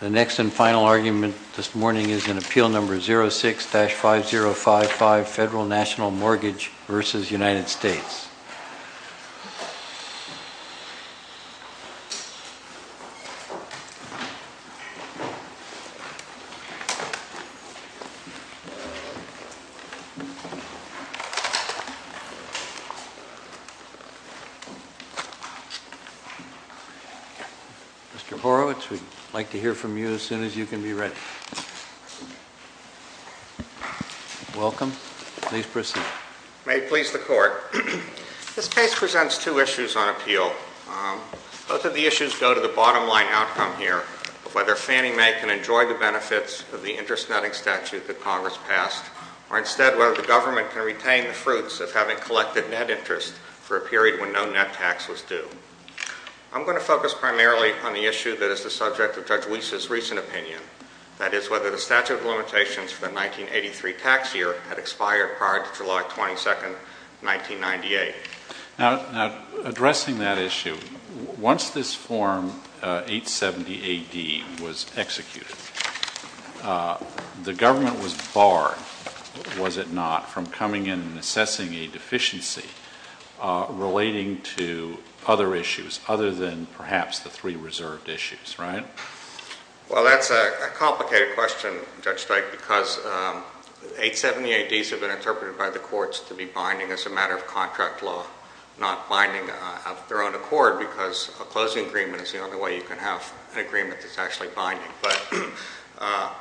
The next and final argument this morning is in Appeal No. 06-5055, Federal National Mortgage. Mr. Horowitz, we'd like to hear from you as soon as you can be ready. Welcome. Please proceed. May it please the Court. This case presents two issues on appeal. Both of Fannie Mae can enjoy the benefits of the interest netting statute that Congress passed, or instead whether the government can retain the fruits of having collected net interest for a period when no net tax was due. I'm going to focus primarily on the issue that is the subject of Judge Weis' recent opinion, that is, whether the statute of limitations for the 1983 tax year had expired prior to July 22, 1998. Now, addressing that issue, once this form 870 AD was executed, the government was barred, was it not, from coming in and assessing a deficiency relating to other issues other than perhaps the three reserved issues, right? Well, that's a complicated question, Judge Strike, because 870 ADs have been interpreted by the courts to be binding as a matter of contract law, not binding of their own accord because a closing agreement is the only way you can have an agreement that's actually binding.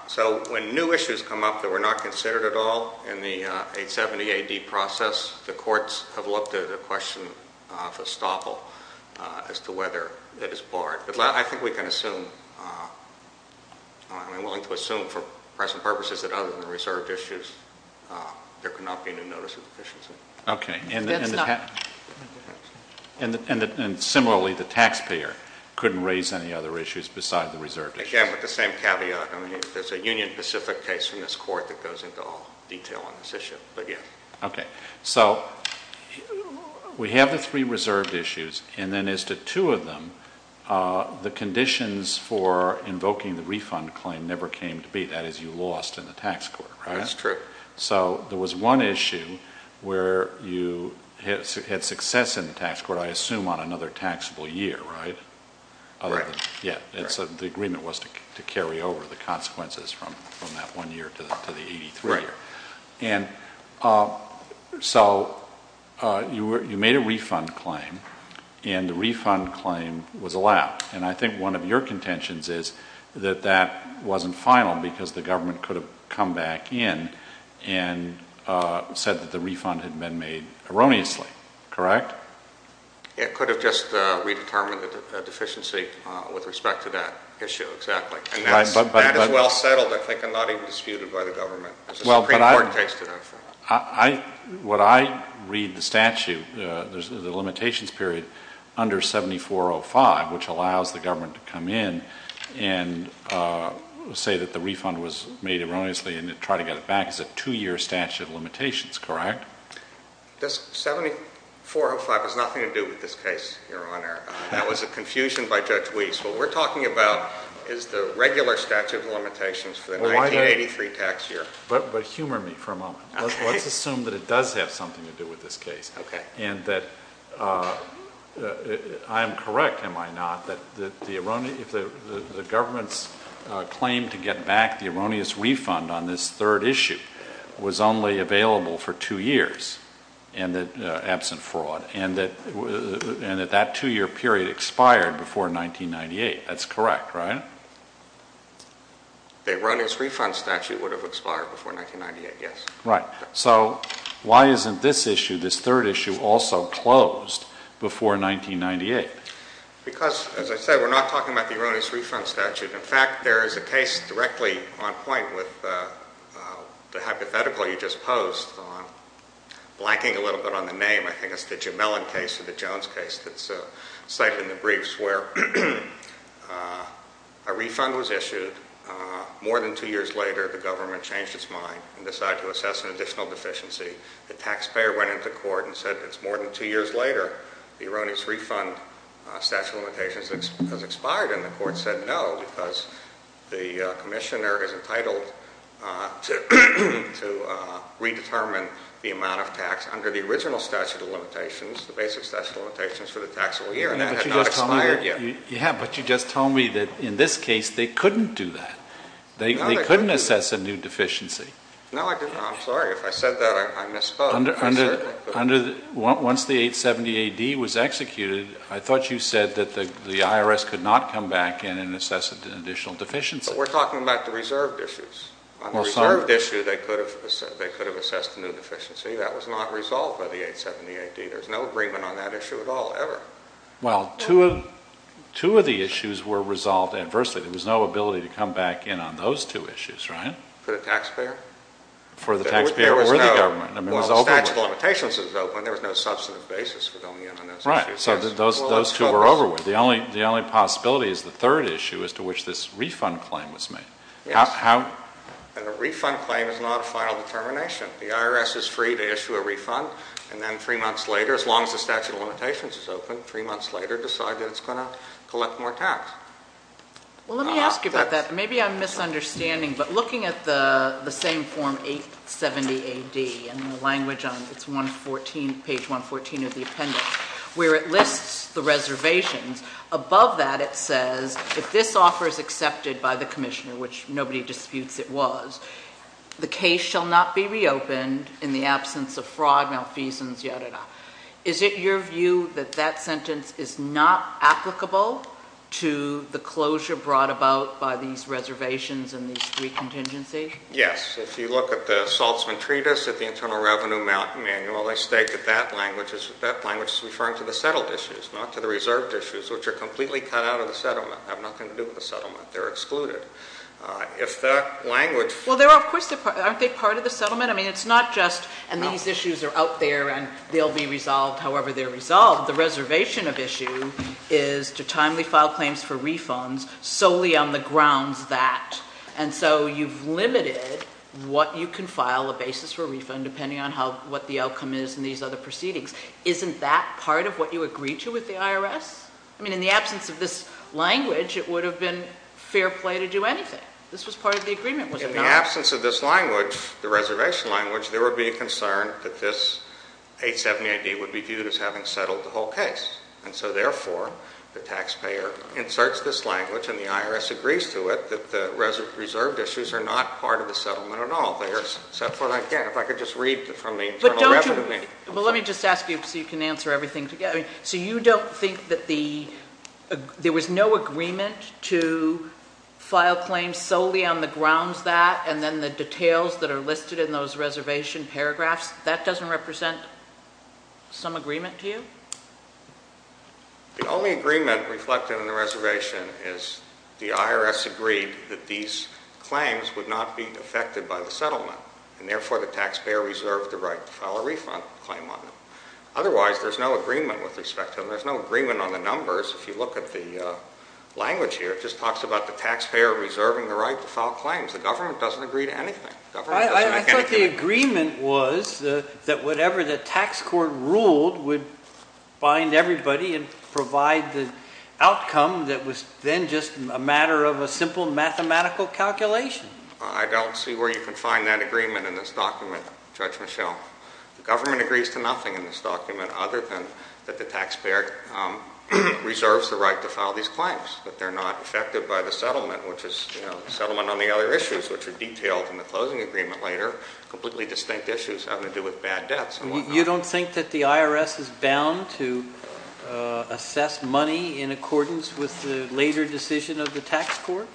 So when new issues come up that were not considered at all in the 870 AD process, the courts have looked at a question of estoppel as to whether that is barred. But I think we can assume, I'm willing to assume for present purposes that other than the reserved issues, there could not be any notice of deficiency. And similarly, the taxpayer couldn't raise any other issues besides the reserved issues. Again, with the same caveat, there's a union-specific case from this Court that goes into all detail on this issue, but yes. So we have the three reserved issues, and then as to two of them, the conditions for invoking the refund claim never came to be, that is, you lost in the tax court, right? That's true. So there was one issue where you had success in the tax court, I assume, on another taxable year, right? Right. Yeah. The agreement was to carry over the consequences from that one year to the 83. So you made a refund claim, and the refund claim was allowed. And I think one of your comments was that the government came in and said that the refund had been made erroneously, correct? It could have just redetermined the deficiency with respect to that issue, exactly. And that is well settled, I think, and not even disputed by the government, as the Supreme Court takes to them. What I read the statute, the limitations period, under 7405, which allows the government to come in and say that the refund was made erroneously and to try to get it back, is a two-year statute of limitations, correct? 7405 has nothing to do with this case, Your Honor. That was a confusion by Judge Weiss. What we're talking about is the regular statute of limitations for the 1983 tax year. But humor me for a moment. Let's assume that it does have something to do with this case, and that I'm correct, am I not, that the government's claim to get back the erroneous refund on this third issue was only available for two years, absent fraud, and that that two-year period expired before 1998. That's correct, right? The erroneous refund statute would have expired before 1998, yes. Right. So why isn't this issue, this third issue, also closed before 1998? Because as I said, we're not talking about the erroneous refund statute. In fact, there is a case directly on point with the hypothetical you just posed on, blanking a little bit on the name, I think it's the Jemelin case or the Jones case that's cited in the briefs, where a refund was issued. More than two years later, the government changed its mind and decided to assess an additional deficiency. The taxpayer went into court and said it's more than two years later, the erroneous refund statute of limitations has expired, and the court said no, because the commissioner is entitled to redetermine the amount of tax under the original statute of limitations, the basic statute of limitations for the taxable year, and that has not expired yet. Yeah, but you just told me that in this case, they couldn't do that. They couldn't assess a new deficiency. No, I didn't. I'm sorry. If I said that, I misspoke. Once the 870-AD was executed, I thought you said that the IRS could not come back in and assess an additional deficiency. But we're talking about the reserved issues. On the reserved issue, they could have assessed a new deficiency. That was not resolved by the 870-AD. There's no agreement on that issue at all, ever. Well, two of the issues were resolved adversely. There was no ability to come back in on those two issues, right? For the taxpayer? For the taxpayer-worthy government. Well, the statute of limitations was open. There was no substantive basis for going in on those issues. Right. So those two were over with. The only possibility is the third issue, as to which this refund claim was made. Yes. And a refund claim is not a final determination. The IRS is free to issue a refund, and then three months later, as long as the statute of limitations is open, three months later, decide that it's going to collect more tax. Well, let me ask you about that. Maybe I'm misunderstanding, but looking at the same form, 870-AD, and the language on page 114 of the appendix, where it lists the reservations, above that it says, if this offer is accepted by the commissioner, which nobody disputes it was, the case shall not be reopened in the absence of fraud, malfeasance, yadda yadda. Is it your view that that sentence is not applicable to the closure brought about by these reservations and these three contingencies? Yes. If you look at the Saltzman Treatise, at the Internal Revenue Manual, they state that that language is referring to the settled issues, not to the reserved issues, which are completely cut out of the settlement, have nothing to do with the settlement. They're excluded. If that language... Well, of course, aren't they part of the settlement? I mean, it's not just, and these issues are out there and they'll be resolved however they're resolved. The reservation of issue is to timely file claims for refunds solely on the grounds that, and so you've limited what you can file, a basis for a refund, depending on what the outcome is in these other proceedings. Isn't that part of what you agreed to with the IRS? I mean, in the absence of this language, it would have been fair play to do anything. This was part of the agreement. In the absence of this language, the reservation language, there would be a concern that this 870-AD would be viewed as having settled the whole case. And so therefore, the taxpayer inserts this language and the IRS agrees to it that the reserved issues are not part of the settlement at all. They are set for, again, if I could just read from the Internal Revenue Manual. But don't you, well, let me just ask you so you can answer everything together. So you don't think that the, there was no agreement to file claims solely on the grounds that, and then the details that are listed in those reservation paragraphs, that doesn't represent some agreement to you? The only agreement reflected in the reservation is the IRS agreed that these claims would not be affected by the settlement. And therefore, the taxpayer reserved the right to file a refund claim on them. Otherwise, there's no agreement with respect to them. There's no agreement on the numbers. If you look at the language here, it just talks about the taxpayer reserving the right to file claims. The government doesn't agree to anything. I thought the agreement was that whatever the tax court ruled would bind everybody and provide the outcome that was then just a matter of a simple mathematical calculation. I don't see where you can find that agreement in this document, Judge Michel. The government agrees to nothing in this document other than that the taxpayer reserves the right to file these claims, that they're not affected by the settlement, which is settlement on the other issues, which are detailed in the closing agreement later, completely distinct issues having to do with bad debts. You don't think that the IRS is bound to assess money in accordance with the later decision of the tax court?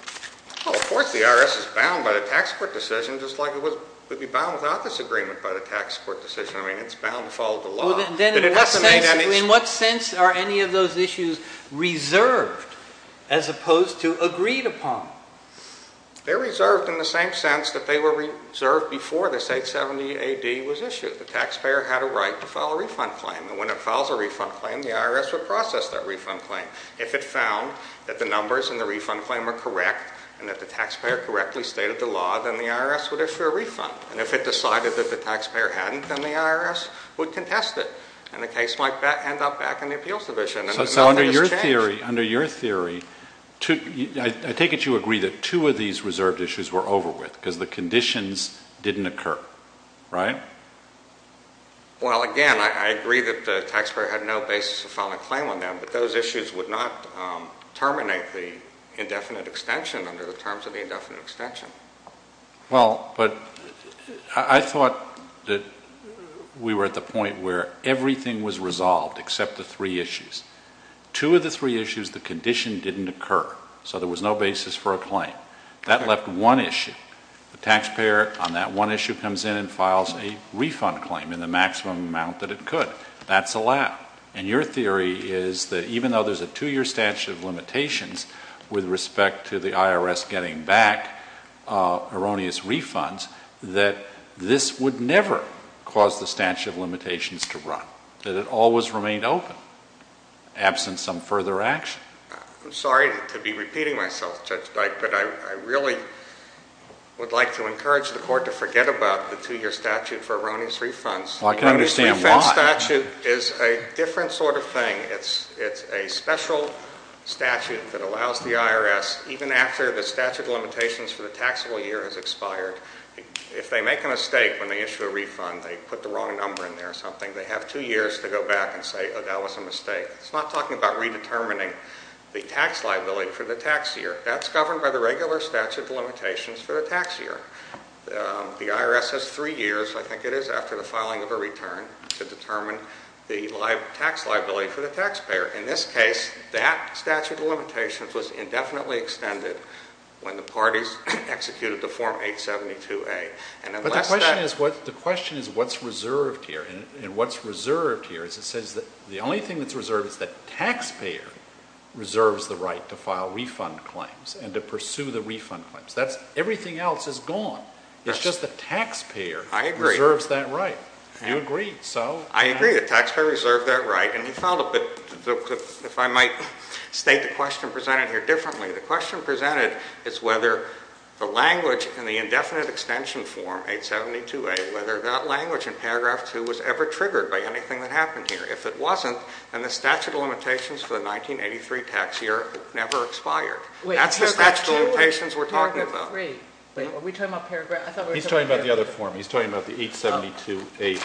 Well, of course the IRS is bound by the tax court decision, just like it would be bound without this agreement by the tax court decision. I mean, it's bound to follow the law. In what sense are any of those issues reserved as opposed to agreed upon? They're reserved in the same sense that they were reserved before this 870 AD was issued. The taxpayer had a right to file a refund claim, and when it files a refund claim, the IRS would process that refund claim. If it found that the numbers in the refund claim were correct and that the taxpayer correctly stated the law, then the IRS would issue a benefit, and the case might end up back in the appeals division. So under your theory, I take it you agree that two of these reserved issues were over with because the conditions didn't occur, right? Well, again, I agree that the taxpayer had no basis to file a claim on them, but those issues would not terminate the indefinite extension under the terms of the indefinite extension. Well, but I thought that we were at the point where everything was resolved except the three issues. Two of the three issues, the condition didn't occur, so there was no basis for a claim. That left one issue. The taxpayer on that one issue comes in and files a refund claim in the maximum amount that it could. That's allowed. And your theory is that even though there's a two-year statute of limitations with respect to the erroneous refunds, that this would never cause the statute of limitations to run, that it always remained open, absent some further action. I'm sorry to be repeating myself, Judge Dyke, but I really would like to encourage the Court to forget about the two-year statute for erroneous refunds. Well, I can understand why. The erroneous refund statute is a different sort of thing. It's a special statute that has expired. If they make a mistake when they issue a refund, they put the wrong number in there or something, they have two years to go back and say, oh, that was a mistake. It's not talking about redetermining the tax liability for the tax year. That's governed by the regular statute of limitations for the tax year. The IRS has three years, I think it is, after the filing of a return to determine the tax liability for the taxpayer. In this case, the IRS has executed the Form 872A. But the question is, what's reserved here? And what's reserved here is it says that the only thing that's reserved is that the taxpayer reserves the right to file refund claims and to pursue the refund claims. Everything else is gone. It's just the taxpayer reserves that right. I agree. You agree, so? I agree. The taxpayer reserves that right. And if I might state the question presented here differently, the question presented is whether the language in the indefinite extension form, 872A, whether that language in paragraph 2 was ever triggered by anything that happened here. If it wasn't, then the statute of limitations for the 1983 tax year never expired. Wait, paragraph 2? That's the statute of limitations we're talking about. Paragraph 3. Are we talking about paragraph 3? He's talking about the other form. He's talking about the 872A. Okay.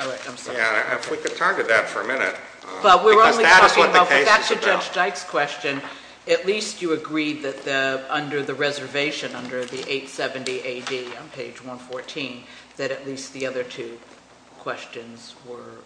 All right. I'm sorry. Yeah, if we could target that for a minute. But we're only talking about the statute. Because that is what the case is about. And at least you agreed that under the reservation, under the 870AD on page 114, that at least the other two questions were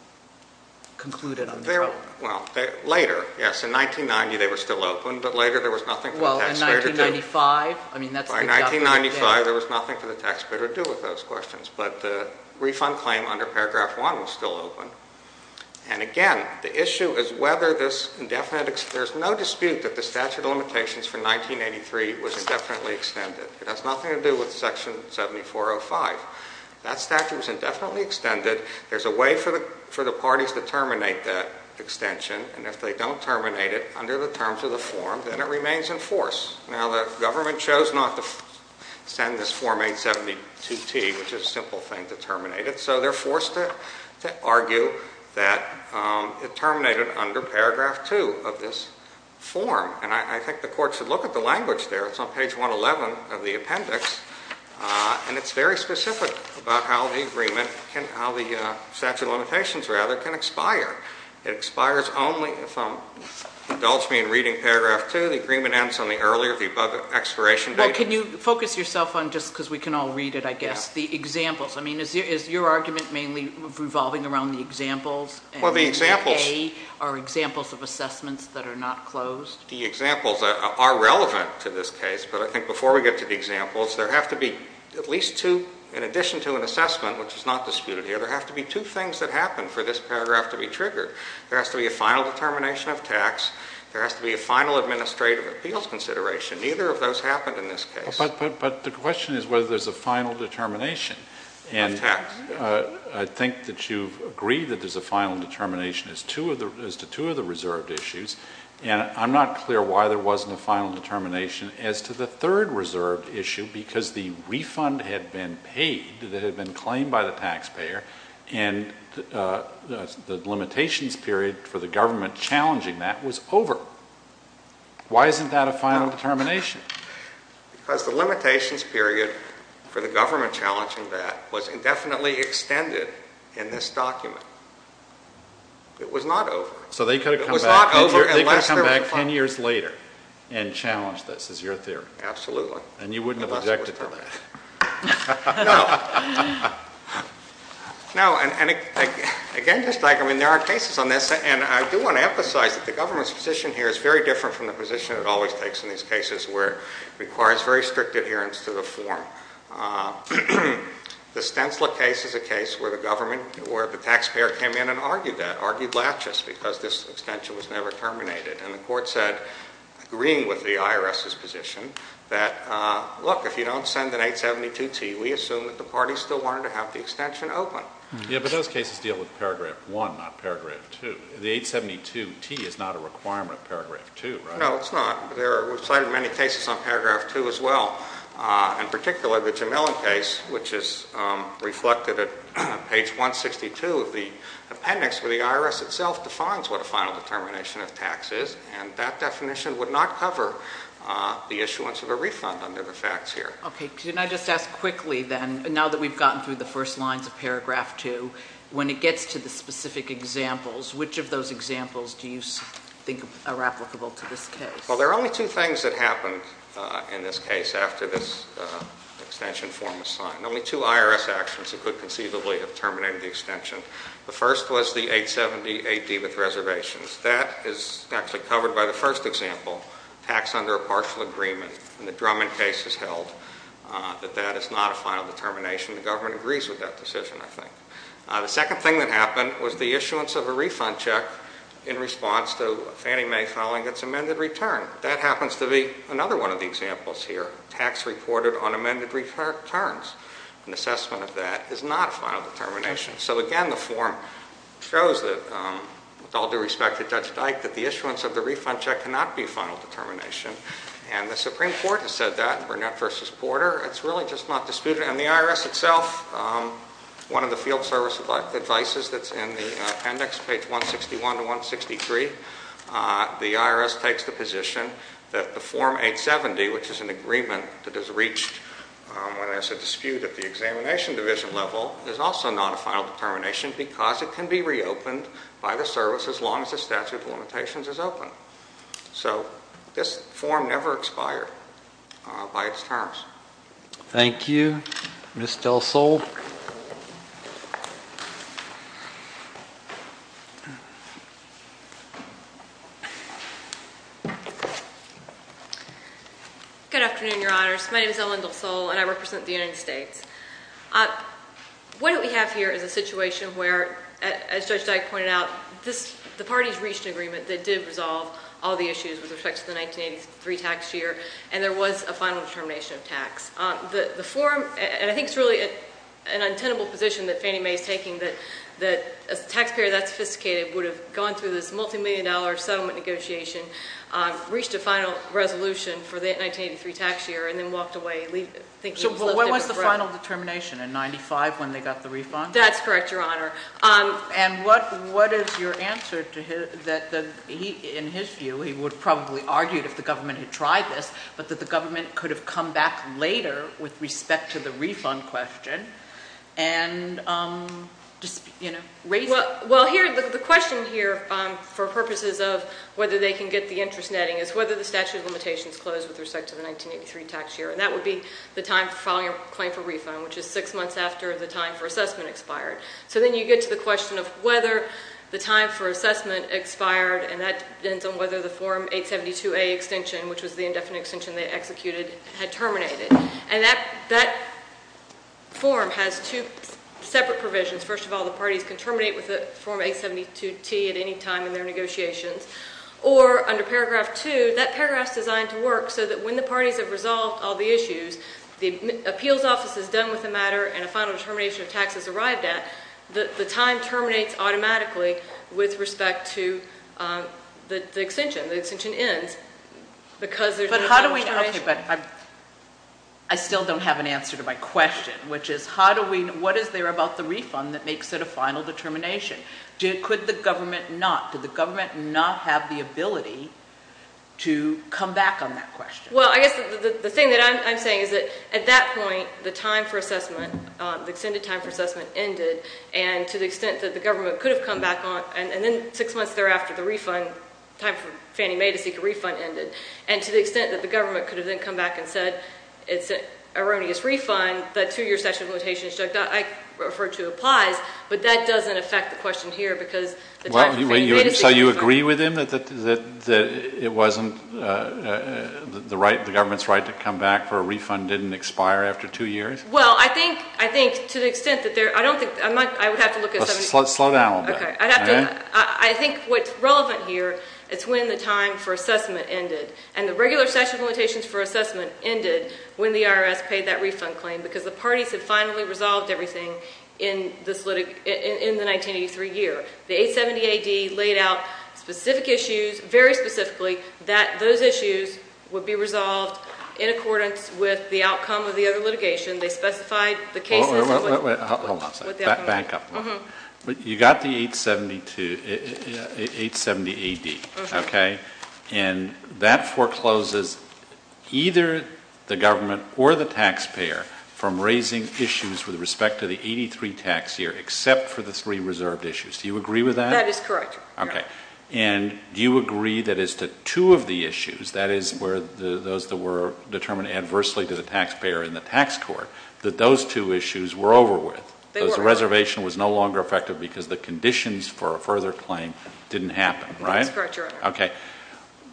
concluded on this. Well, later, yes. In 1990, they were still open, but later there was nothing for the taxpayer to do. Well, in 1995, I mean, that's the definition. By 1995, there was nothing for the taxpayer to do with those questions. But the refund claim under paragraph 1 was still open. And again, the issue is whether this indefinite extension, there's no dispute that the statute of limitations for 1983 was indefinitely extended. It has nothing to do with section 7405. That statute was indefinitely extended. There's a way for the parties to terminate that extension. And if they don't terminate it under the terms of the form, then it remains in force. Now, the government chose not to send this form 872T, which is a simple thing to terminate it. So they're forced to argue that it terminated under paragraph 2 of this form. And I think the Court should look at the language there. It's on page 111 of the appendix. And it's very specific about how the agreement can, how the statute of limitations, rather, can expire. It expires only if, indulge me in reading paragraph 2, the agreement ends on the earlier, the above expiration date. Well, can you focus yourself on, just because we can all read it, I guess, the examples. I mean, is your argument mainly revolving around the examples? Well, the examples... And A, are examples of assessments that are not closed? The examples are relevant to this case. But I think before we get to the examples, there have to be at least two, in addition to an assessment, which is not disputed here, there have to be two things that happen for this paragraph to be triggered. There has to be a final determination of tax. There has to be a final administrative appeals consideration. Neither of those happened in this case. But the question is whether there's a final determination. Of tax. And I think that you've agreed that there's a final determination as to two of the reserved issues. And I'm not clear why there wasn't a final determination as to the third reserved issue, because the refund had been paid, that had been claimed by the taxpayer, and the limitations period for the government challenging that was over. Why isn't that a final determination? Because the limitations period for the government challenging that was indefinitely extended in this document. It was not over. So they could have come back ten years later and challenged this, is your theory? Absolutely. And you wouldn't have objected to that? No. No, and again, just like, I mean, there are cases on this, and I do want to emphasize that the government's position here is very different from the position it always takes in these cases where it requires very strict adherence to the form. The Stensla case is a case where the government, where the taxpayer came in and argued that, argued laches, because this extension was never terminated. And the court said, agreeing with the IRS's position, that, look, if you don't send an 872-T, we assume that the party still wanted to have the extension open. Yeah, but those cases deal with paragraph one, not paragraph two. The 872-T is not a requirement of paragraph two, right? No, it's not. We've cited many cases on paragraph two as well. In particular, the Jemelin case, which is reflected at page 162 of the appendix where the IRS itself defines what a final determination of tax is, and that definition would not cover the issuance of a refund under the facts here. Okay. Can I just ask quickly then, now that we've gotten through the first lines of paragraph two, when it gets to the specific examples, which of those examples do you think are applicable to this case? Well, there are only two things that happened in this case after this extension form was signed. Only two IRS actions that could conceivably have terminated the extension. The first was the 870-AD with reservations. That is actually covered by the first example, tax under a partial agreement, and the Drummond case has held that that is not a final determination. The government agrees with that decision, I think. The second thing that happened was the issuance of a refund check in response to Fannie Mae filing its amended return. That happens to be another one of the examples here. Tax reported on amended returns. An assessment of that is not a final determination. So again, the form shows that, with all due respect to Judge Dyke, that the issuance of the refund check cannot be a final determination, and the Supreme Court has said that, Burnett v. Porter. It's really just not disputed, and the IRS itself, one of the field service advices that's in the index page 161-163, the IRS takes the position that the form 870, which is an agreement that is reached when there's a dispute at the examination division level, is also not a final determination because it can be reopened by the service as long as the statute of limitations is open. So this form never expired by its terms. Thank you. Ms. DelSole. Good afternoon, Your Honors. My name is Ellen DelSole, and I represent the United States. What we have here is a situation where, as Judge Dyke pointed out, the parties reached an agreement that did resolve all the issues with respect to the 1983 tax year, and there was a final determination of tax. The form, and I think it's really an untenable position that Fannie Mae is taking, that a taxpayer that sophisticated would have gone through this multimillion-dollar settlement negotiation, reached a final resolution for the 1983 tax year, and then walked away, thinking it was a little different. So what was the final determination, a 95 when they got the refund? That's correct, Your Honor. And what is your answer to his, that he, in his view, he would have probably argued if the government had tried this, but that the government could have come back later with respect to the refund question and just, you know, raised it? Well, here, the question here, for purposes of whether they can get the interest netting, is whether the statute of limitations closed with respect to the 1983 tax year, and that would be the time following a claim for refund, which is six months after the time for assessment expired. So then you get to the question of whether the time for assessment expired, and that depends on whether the Form 872A extension, which was the indefinite extension they executed, had terminated. And that form has two separate provisions. First of all, the parties can terminate with the Form 872T at any time in their negotiations. Or, under Paragraph 2, that paragraph is designed to work so that when the parties have resolved all the issues, the appeals office is done with the matter, and a final determination of taxes arrived at, the time terminates automatically with respect to the extension. The extension ends because there's no final determination. But how do we know? Okay, but I still don't have an answer to my question, which is how do we know? What is there about the refund that makes it a final determination? Could the government not? Could the government not have the ability to come back on that question? Well, I guess the thing that I'm saying is that at that point, the time for assessment, the extended time for assessment ended, and to the extent that the government could have come back on it, and then six months thereafter, the refund, the time for Fannie Mae to seek a refund ended. And to the extent that the government could have then come back and said it's an erroneous refund, that two-year statute of limitations that I referred to applies, but that doesn't affect the question here because the time for Fannie Mae to seek a refund... So you agree with him that it wasn't the government's right to come back for a refund didn't expire after two years? Well, I think to the extent that there... I don't think... I would have to look at... Slow down a little bit. Okay. I think what's relevant here is when the time for assessment ended. And the regular statute of limitations for assessment ended when the IRS paid that refund claim because the parties had finally resolved everything in the 1983 year. The 870 AD laid out specific issues, very specifically, that those issues would be resolved in accordance with the outcome of the other litigation. They specified the cases... Hold on a second. Back up. You got the 872... 870 AD, okay? And that forecloses either the government or the taxpayer from raising issues with respect to the 83 tax year except for the three reserved issues. Do you agree with that? That is correct. Okay. And do you agree that as to two of the issues, that is where those that were determined adversely to the taxpayer in the tax court, that those two issues were over with? They were. Because the reservation was no longer effective because the conditions for a further claim didn't happen, right? That's correct, Your Honor. Okay.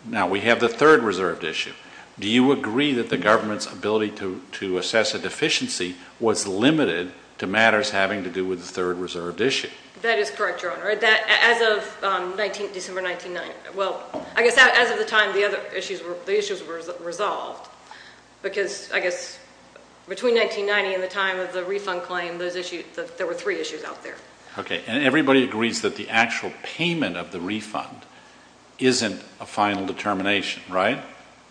Now, we have the third reserved issue. Do you agree that the government's ability to assess a deficiency was limited to matters having to do with the third reserved issue? That is correct, Your Honor. As of December 19... Well, I guess as of the time the other because I guess between 1990 and the time of the refund claim, those issues, there were three issues out there. Okay. And everybody agrees that the actual payment of the refund isn't a final determination, right?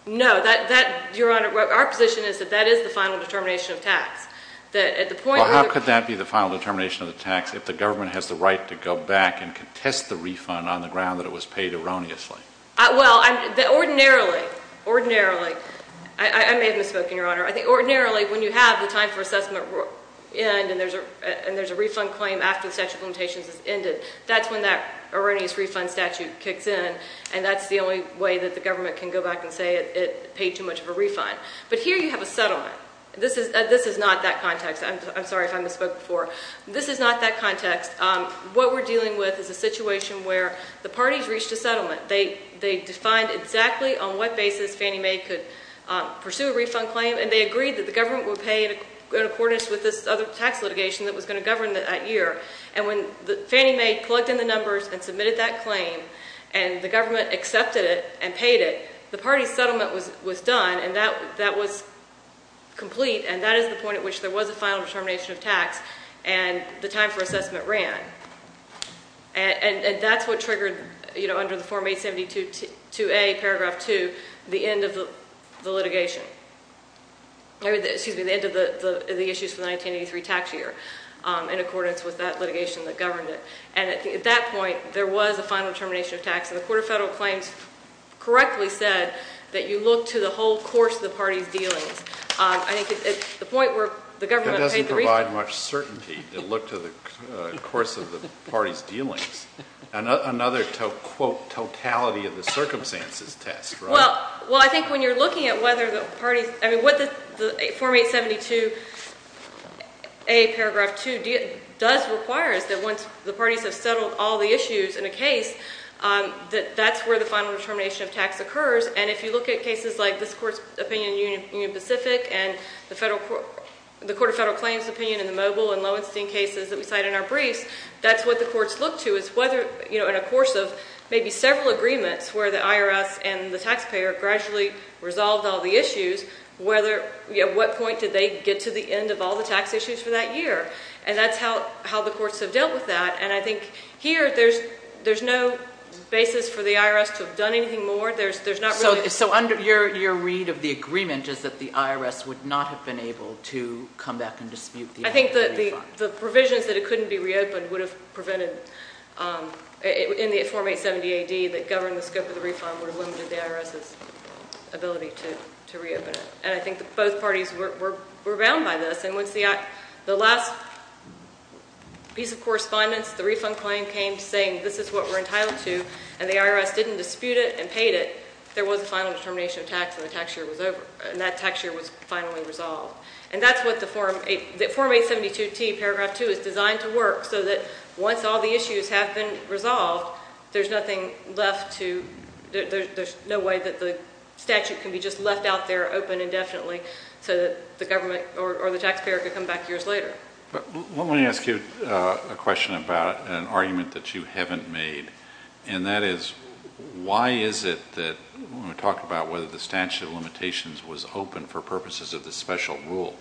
No. That, Your Honor, our position is that that is the final determination of tax. That at the point... Well, how could that be the final determination of the tax if the government has the right to go back and contest the refund on the ground that it was paid erroneously? Well, ordinarily... I may have misspoken, Your Honor. I think ordinarily when you have the time for assessment and there's a refund claim after the statute of limitations has ended, that's when that erroneous refund statute kicks in and that's the only way that the government can go back and say it paid too much of a refund. But here you have a settlement. This is not that context. I'm sorry if I misspoke before. This is not that context. What we're dealing with is a situation where the parties reached a settlement. They defined exactly on what basis Fannie Mae could pursue a refund claim and they agreed that the government would pay in accordance with this other tax litigation that was going to govern that year. And when Fannie Mae plugged in the numbers and submitted that claim and the government accepted it and paid it, the parties' settlement was done and that was complete and that is the point at which there was a final determination of under the Form 872A, Paragraph 2, the end of the litigation. Excuse me, the end of the issues for the 1983 tax year in accordance with that litigation that governed it. And at that point, there was a final determination of tax and the Court of Federal Claims correctly said that you look to the whole course of the parties' dealings. I think at the point where the government paid the refund... That doesn't provide much certainty to look to the course of the parties' dealings. Another, quote, totality of the circumstances test, right? Well, I think when you're looking at whether the parties, I mean, what the Form 872A, Paragraph 2 does require is that once the parties have settled all the issues in a case, that that's where the final determination of tax occurs and if you look at cases like this Court's opinion in Union Pacific and the Court of Federal Claims' opinion in the Mobile and in a course of maybe several agreements where the IRS and the taxpayer gradually resolved all the issues, at what point did they get to the end of all the tax issues for that year? And that's how the courts have dealt with that. And I think here, there's no basis for the IRS to have done anything more. There's not really... So under your read of the agreement is that the IRS would not have been able to come back and dispute the... I think that the provisions that it couldn't be reopened would have prevented, in the Form 870AD, that govern the scope of the refund would have limited the IRS's ability to reopen it. And I think that both parties were bound by this and once the last piece of correspondence, the refund claim came saying this is what we're entitled to and the IRS didn't dispute it and paid it, there was a final determination of tax and the tax year was over and that Paragraph 2 is designed to work so that once all the issues have been resolved, there's nothing left to... There's no way that the statute can be just left out there open indefinitely so that the government or the taxpayer could come back years later. Let me ask you a question about an argument that you haven't made. And that is, why is it that when we talk about whether the statute of limitations was open for purposes of the special rule,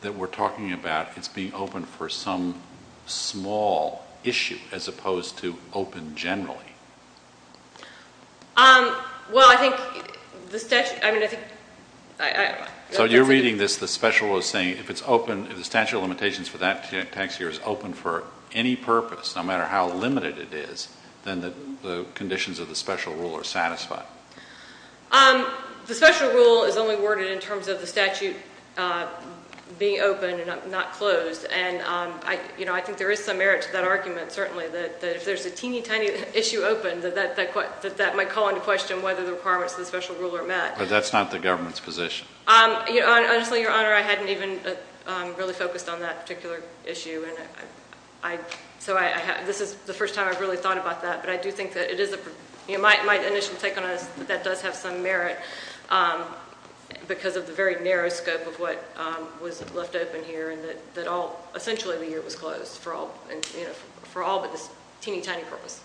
that we're talking about it's being open for some small issue as opposed to open generally? Well, I think the statute... I mean, I think... So you're reading this, the special rule is saying if it's open, if the statute of limitations for that tax year is open for any purpose, no matter how limited it is, then the conditions of the special rule are satisfied. The special rule is only worded in terms of the statute being open and not closed. And I think there is some merit to that argument, certainly, that if there's a teeny tiny issue open, that that might call into question whether the requirements of the special rule are met. But that's not the government's position. Honestly, Your Honor, I hadn't even really focused on that particular issue. So this is the first time I've really thought about that. But I do think that it is... My initial take on it is that that does have some merit because of the very narrow scope of what was left open here and that all... Essentially, the year was closed for all but this teeny tiny purpose.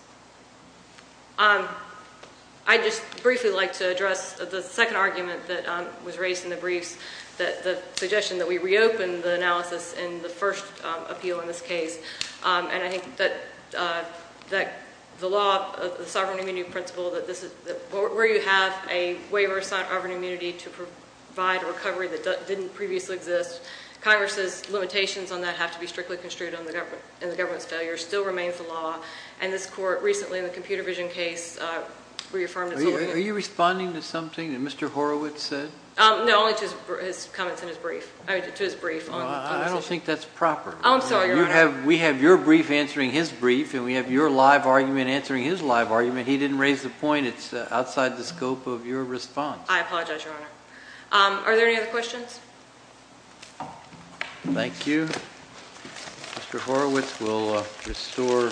I'd just briefly like to address the second argument that was raised in the briefs, the suggestion that we reopen the analysis in the first appeal in this case. And I think that the law, the sovereign immunity principle, where you have a waiver of sovereign immunity to provide a recovery that didn't previously exist, Congress's limitations on that have to be strictly construed in the government's failure, still remains the law. And this court recently, in the computer vision case, reaffirmed its... Are you responding to something that Mr. Horowitz said? No, only to his comments in his brief. I mean, to his brief. I'm sorry, Your Honor. We have your brief answering his brief and we have your live argument answering his live argument. He didn't raise the point. It's outside the scope of your response. I apologize, Your Honor. Are there any other questions? Thank you. Mr. Horowitz will restore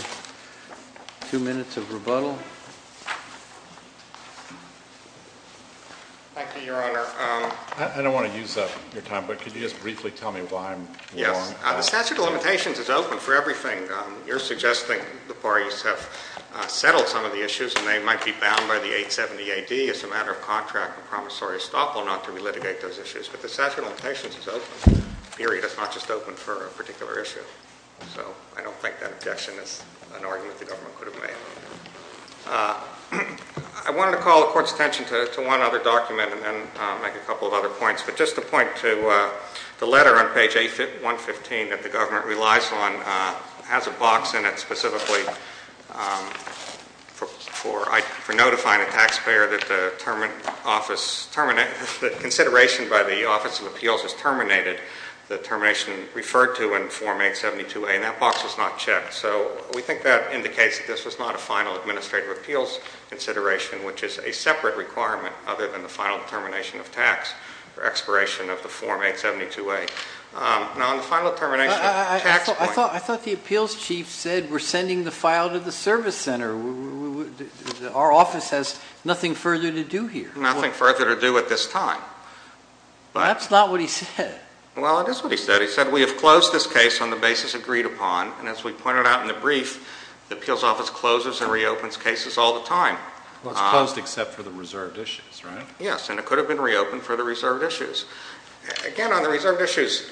two minutes of rebuttal. Thank you, Your Honor. I don't want to use up your time, but could you just briefly tell me why I'm wrong? Yes. The statute of limitations is open for everything. You're suggesting the parties have settled some of the issues and they might be bound by the 870 AD as a matter of contract and promissory estoppel not to relitigate those issues. But the statute of limitations is open, period. It's not just open for a particular issue. So I don't think that objection is an argument the government could have made. I wanted to call the Court's attention to one other document and then make a couple of other points. But just to point to the letter on page 115 that the government relies on, it has a box in it specifically for notifying a taxpayer that the consideration by the Office of Appeals is terminated, the termination referred to in Form 872A, and that box was not checked. So we think that indicates that this was not a final Administrative Appeals consideration, which is a separate requirement other than the final termination of tax for expiration of the Form 872A. I thought the appeals chief said we're sending the file to the service center. Our office has nothing further to do here. Nothing further to do at this time. That's not what he said. Well, it is what he said. He said we have closed this case on the basis agreed upon, and as we pointed out in the brief, the appeals office closes and reopens cases all the time. Well, it's closed except for the reserved issues, right? Yes, and it could have been reopened for the reserved issues. Again, on the reserved issues.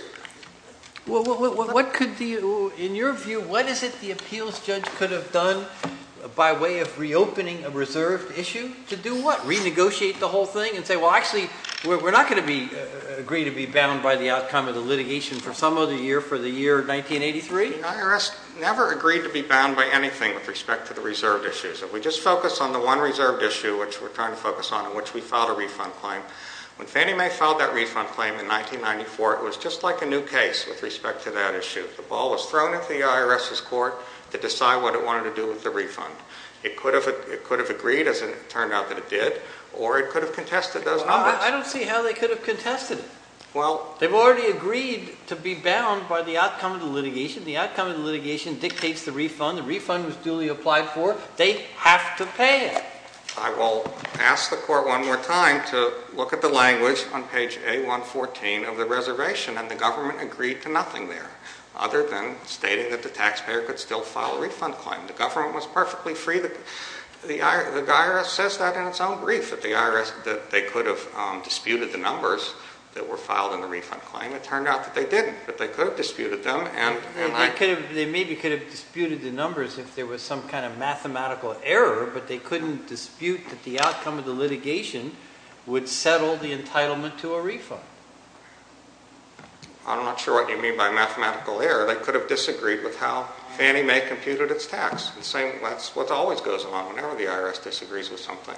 In your view, what is it the appeals judge could have done by way of reopening a reserved issue? To do what? Renegotiate the whole thing and say, well, actually, we're not going to agree to be bound by the outcome of the litigation for some other year, for the year 1983? The IRS never agreed to be bound by anything with respect to the reserved issues. If we just focus on the one reserved issue, which we're trying to focus on, in which we filed a refund claim, when Fannie Mae filed that refund claim in 1994, it was just like a new case with respect to that issue. The ball was thrown at the IRS's court to decide what it wanted to do with the refund. It could have agreed, as it turned out that it did, or it could have contested those numbers. I don't see how they could have contested it. They've already agreed to be bound by the outcome of the litigation. The outcome of the litigation dictates the refund. The refund was duly applied for. They have to pay it. I will ask the court one more time to look at the language on page A114 of the reservation, and the government agreed to nothing there other than stating that the taxpayer could still file a refund claim. The government was perfectly free. The IRS says that in its own brief, that they could have disputed the numbers that were filed in the refund claim. It turned out that they didn't, but they could have disputed them. They maybe could have disputed the numbers if there was some kind of mathematical error, but they couldn't dispute that the outcome of the litigation would settle the entitlement to a refund. I'm not sure what you mean by mathematical error. They could have disagreed with how Fannie Mae computed its tax. That's what always goes on whenever the IRS disagrees with something.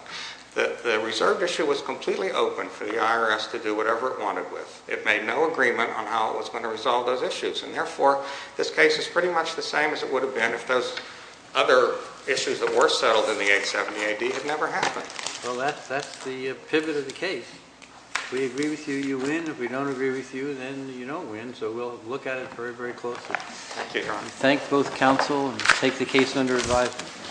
The reserve issue was completely open for the IRS to do whatever it wanted with. It made no agreement on how it was going to resolve those issues, and therefore this case is pretty much the same as it would have been if those other issues that were settled in the 870AD had never happened. Well, that's the pivot of the case. If we agree with you, you win. If we don't agree with you, then you don't win, so we'll look at it very, very closely. Thank you, Your Honor. We thank both counsel and take the case under advisement.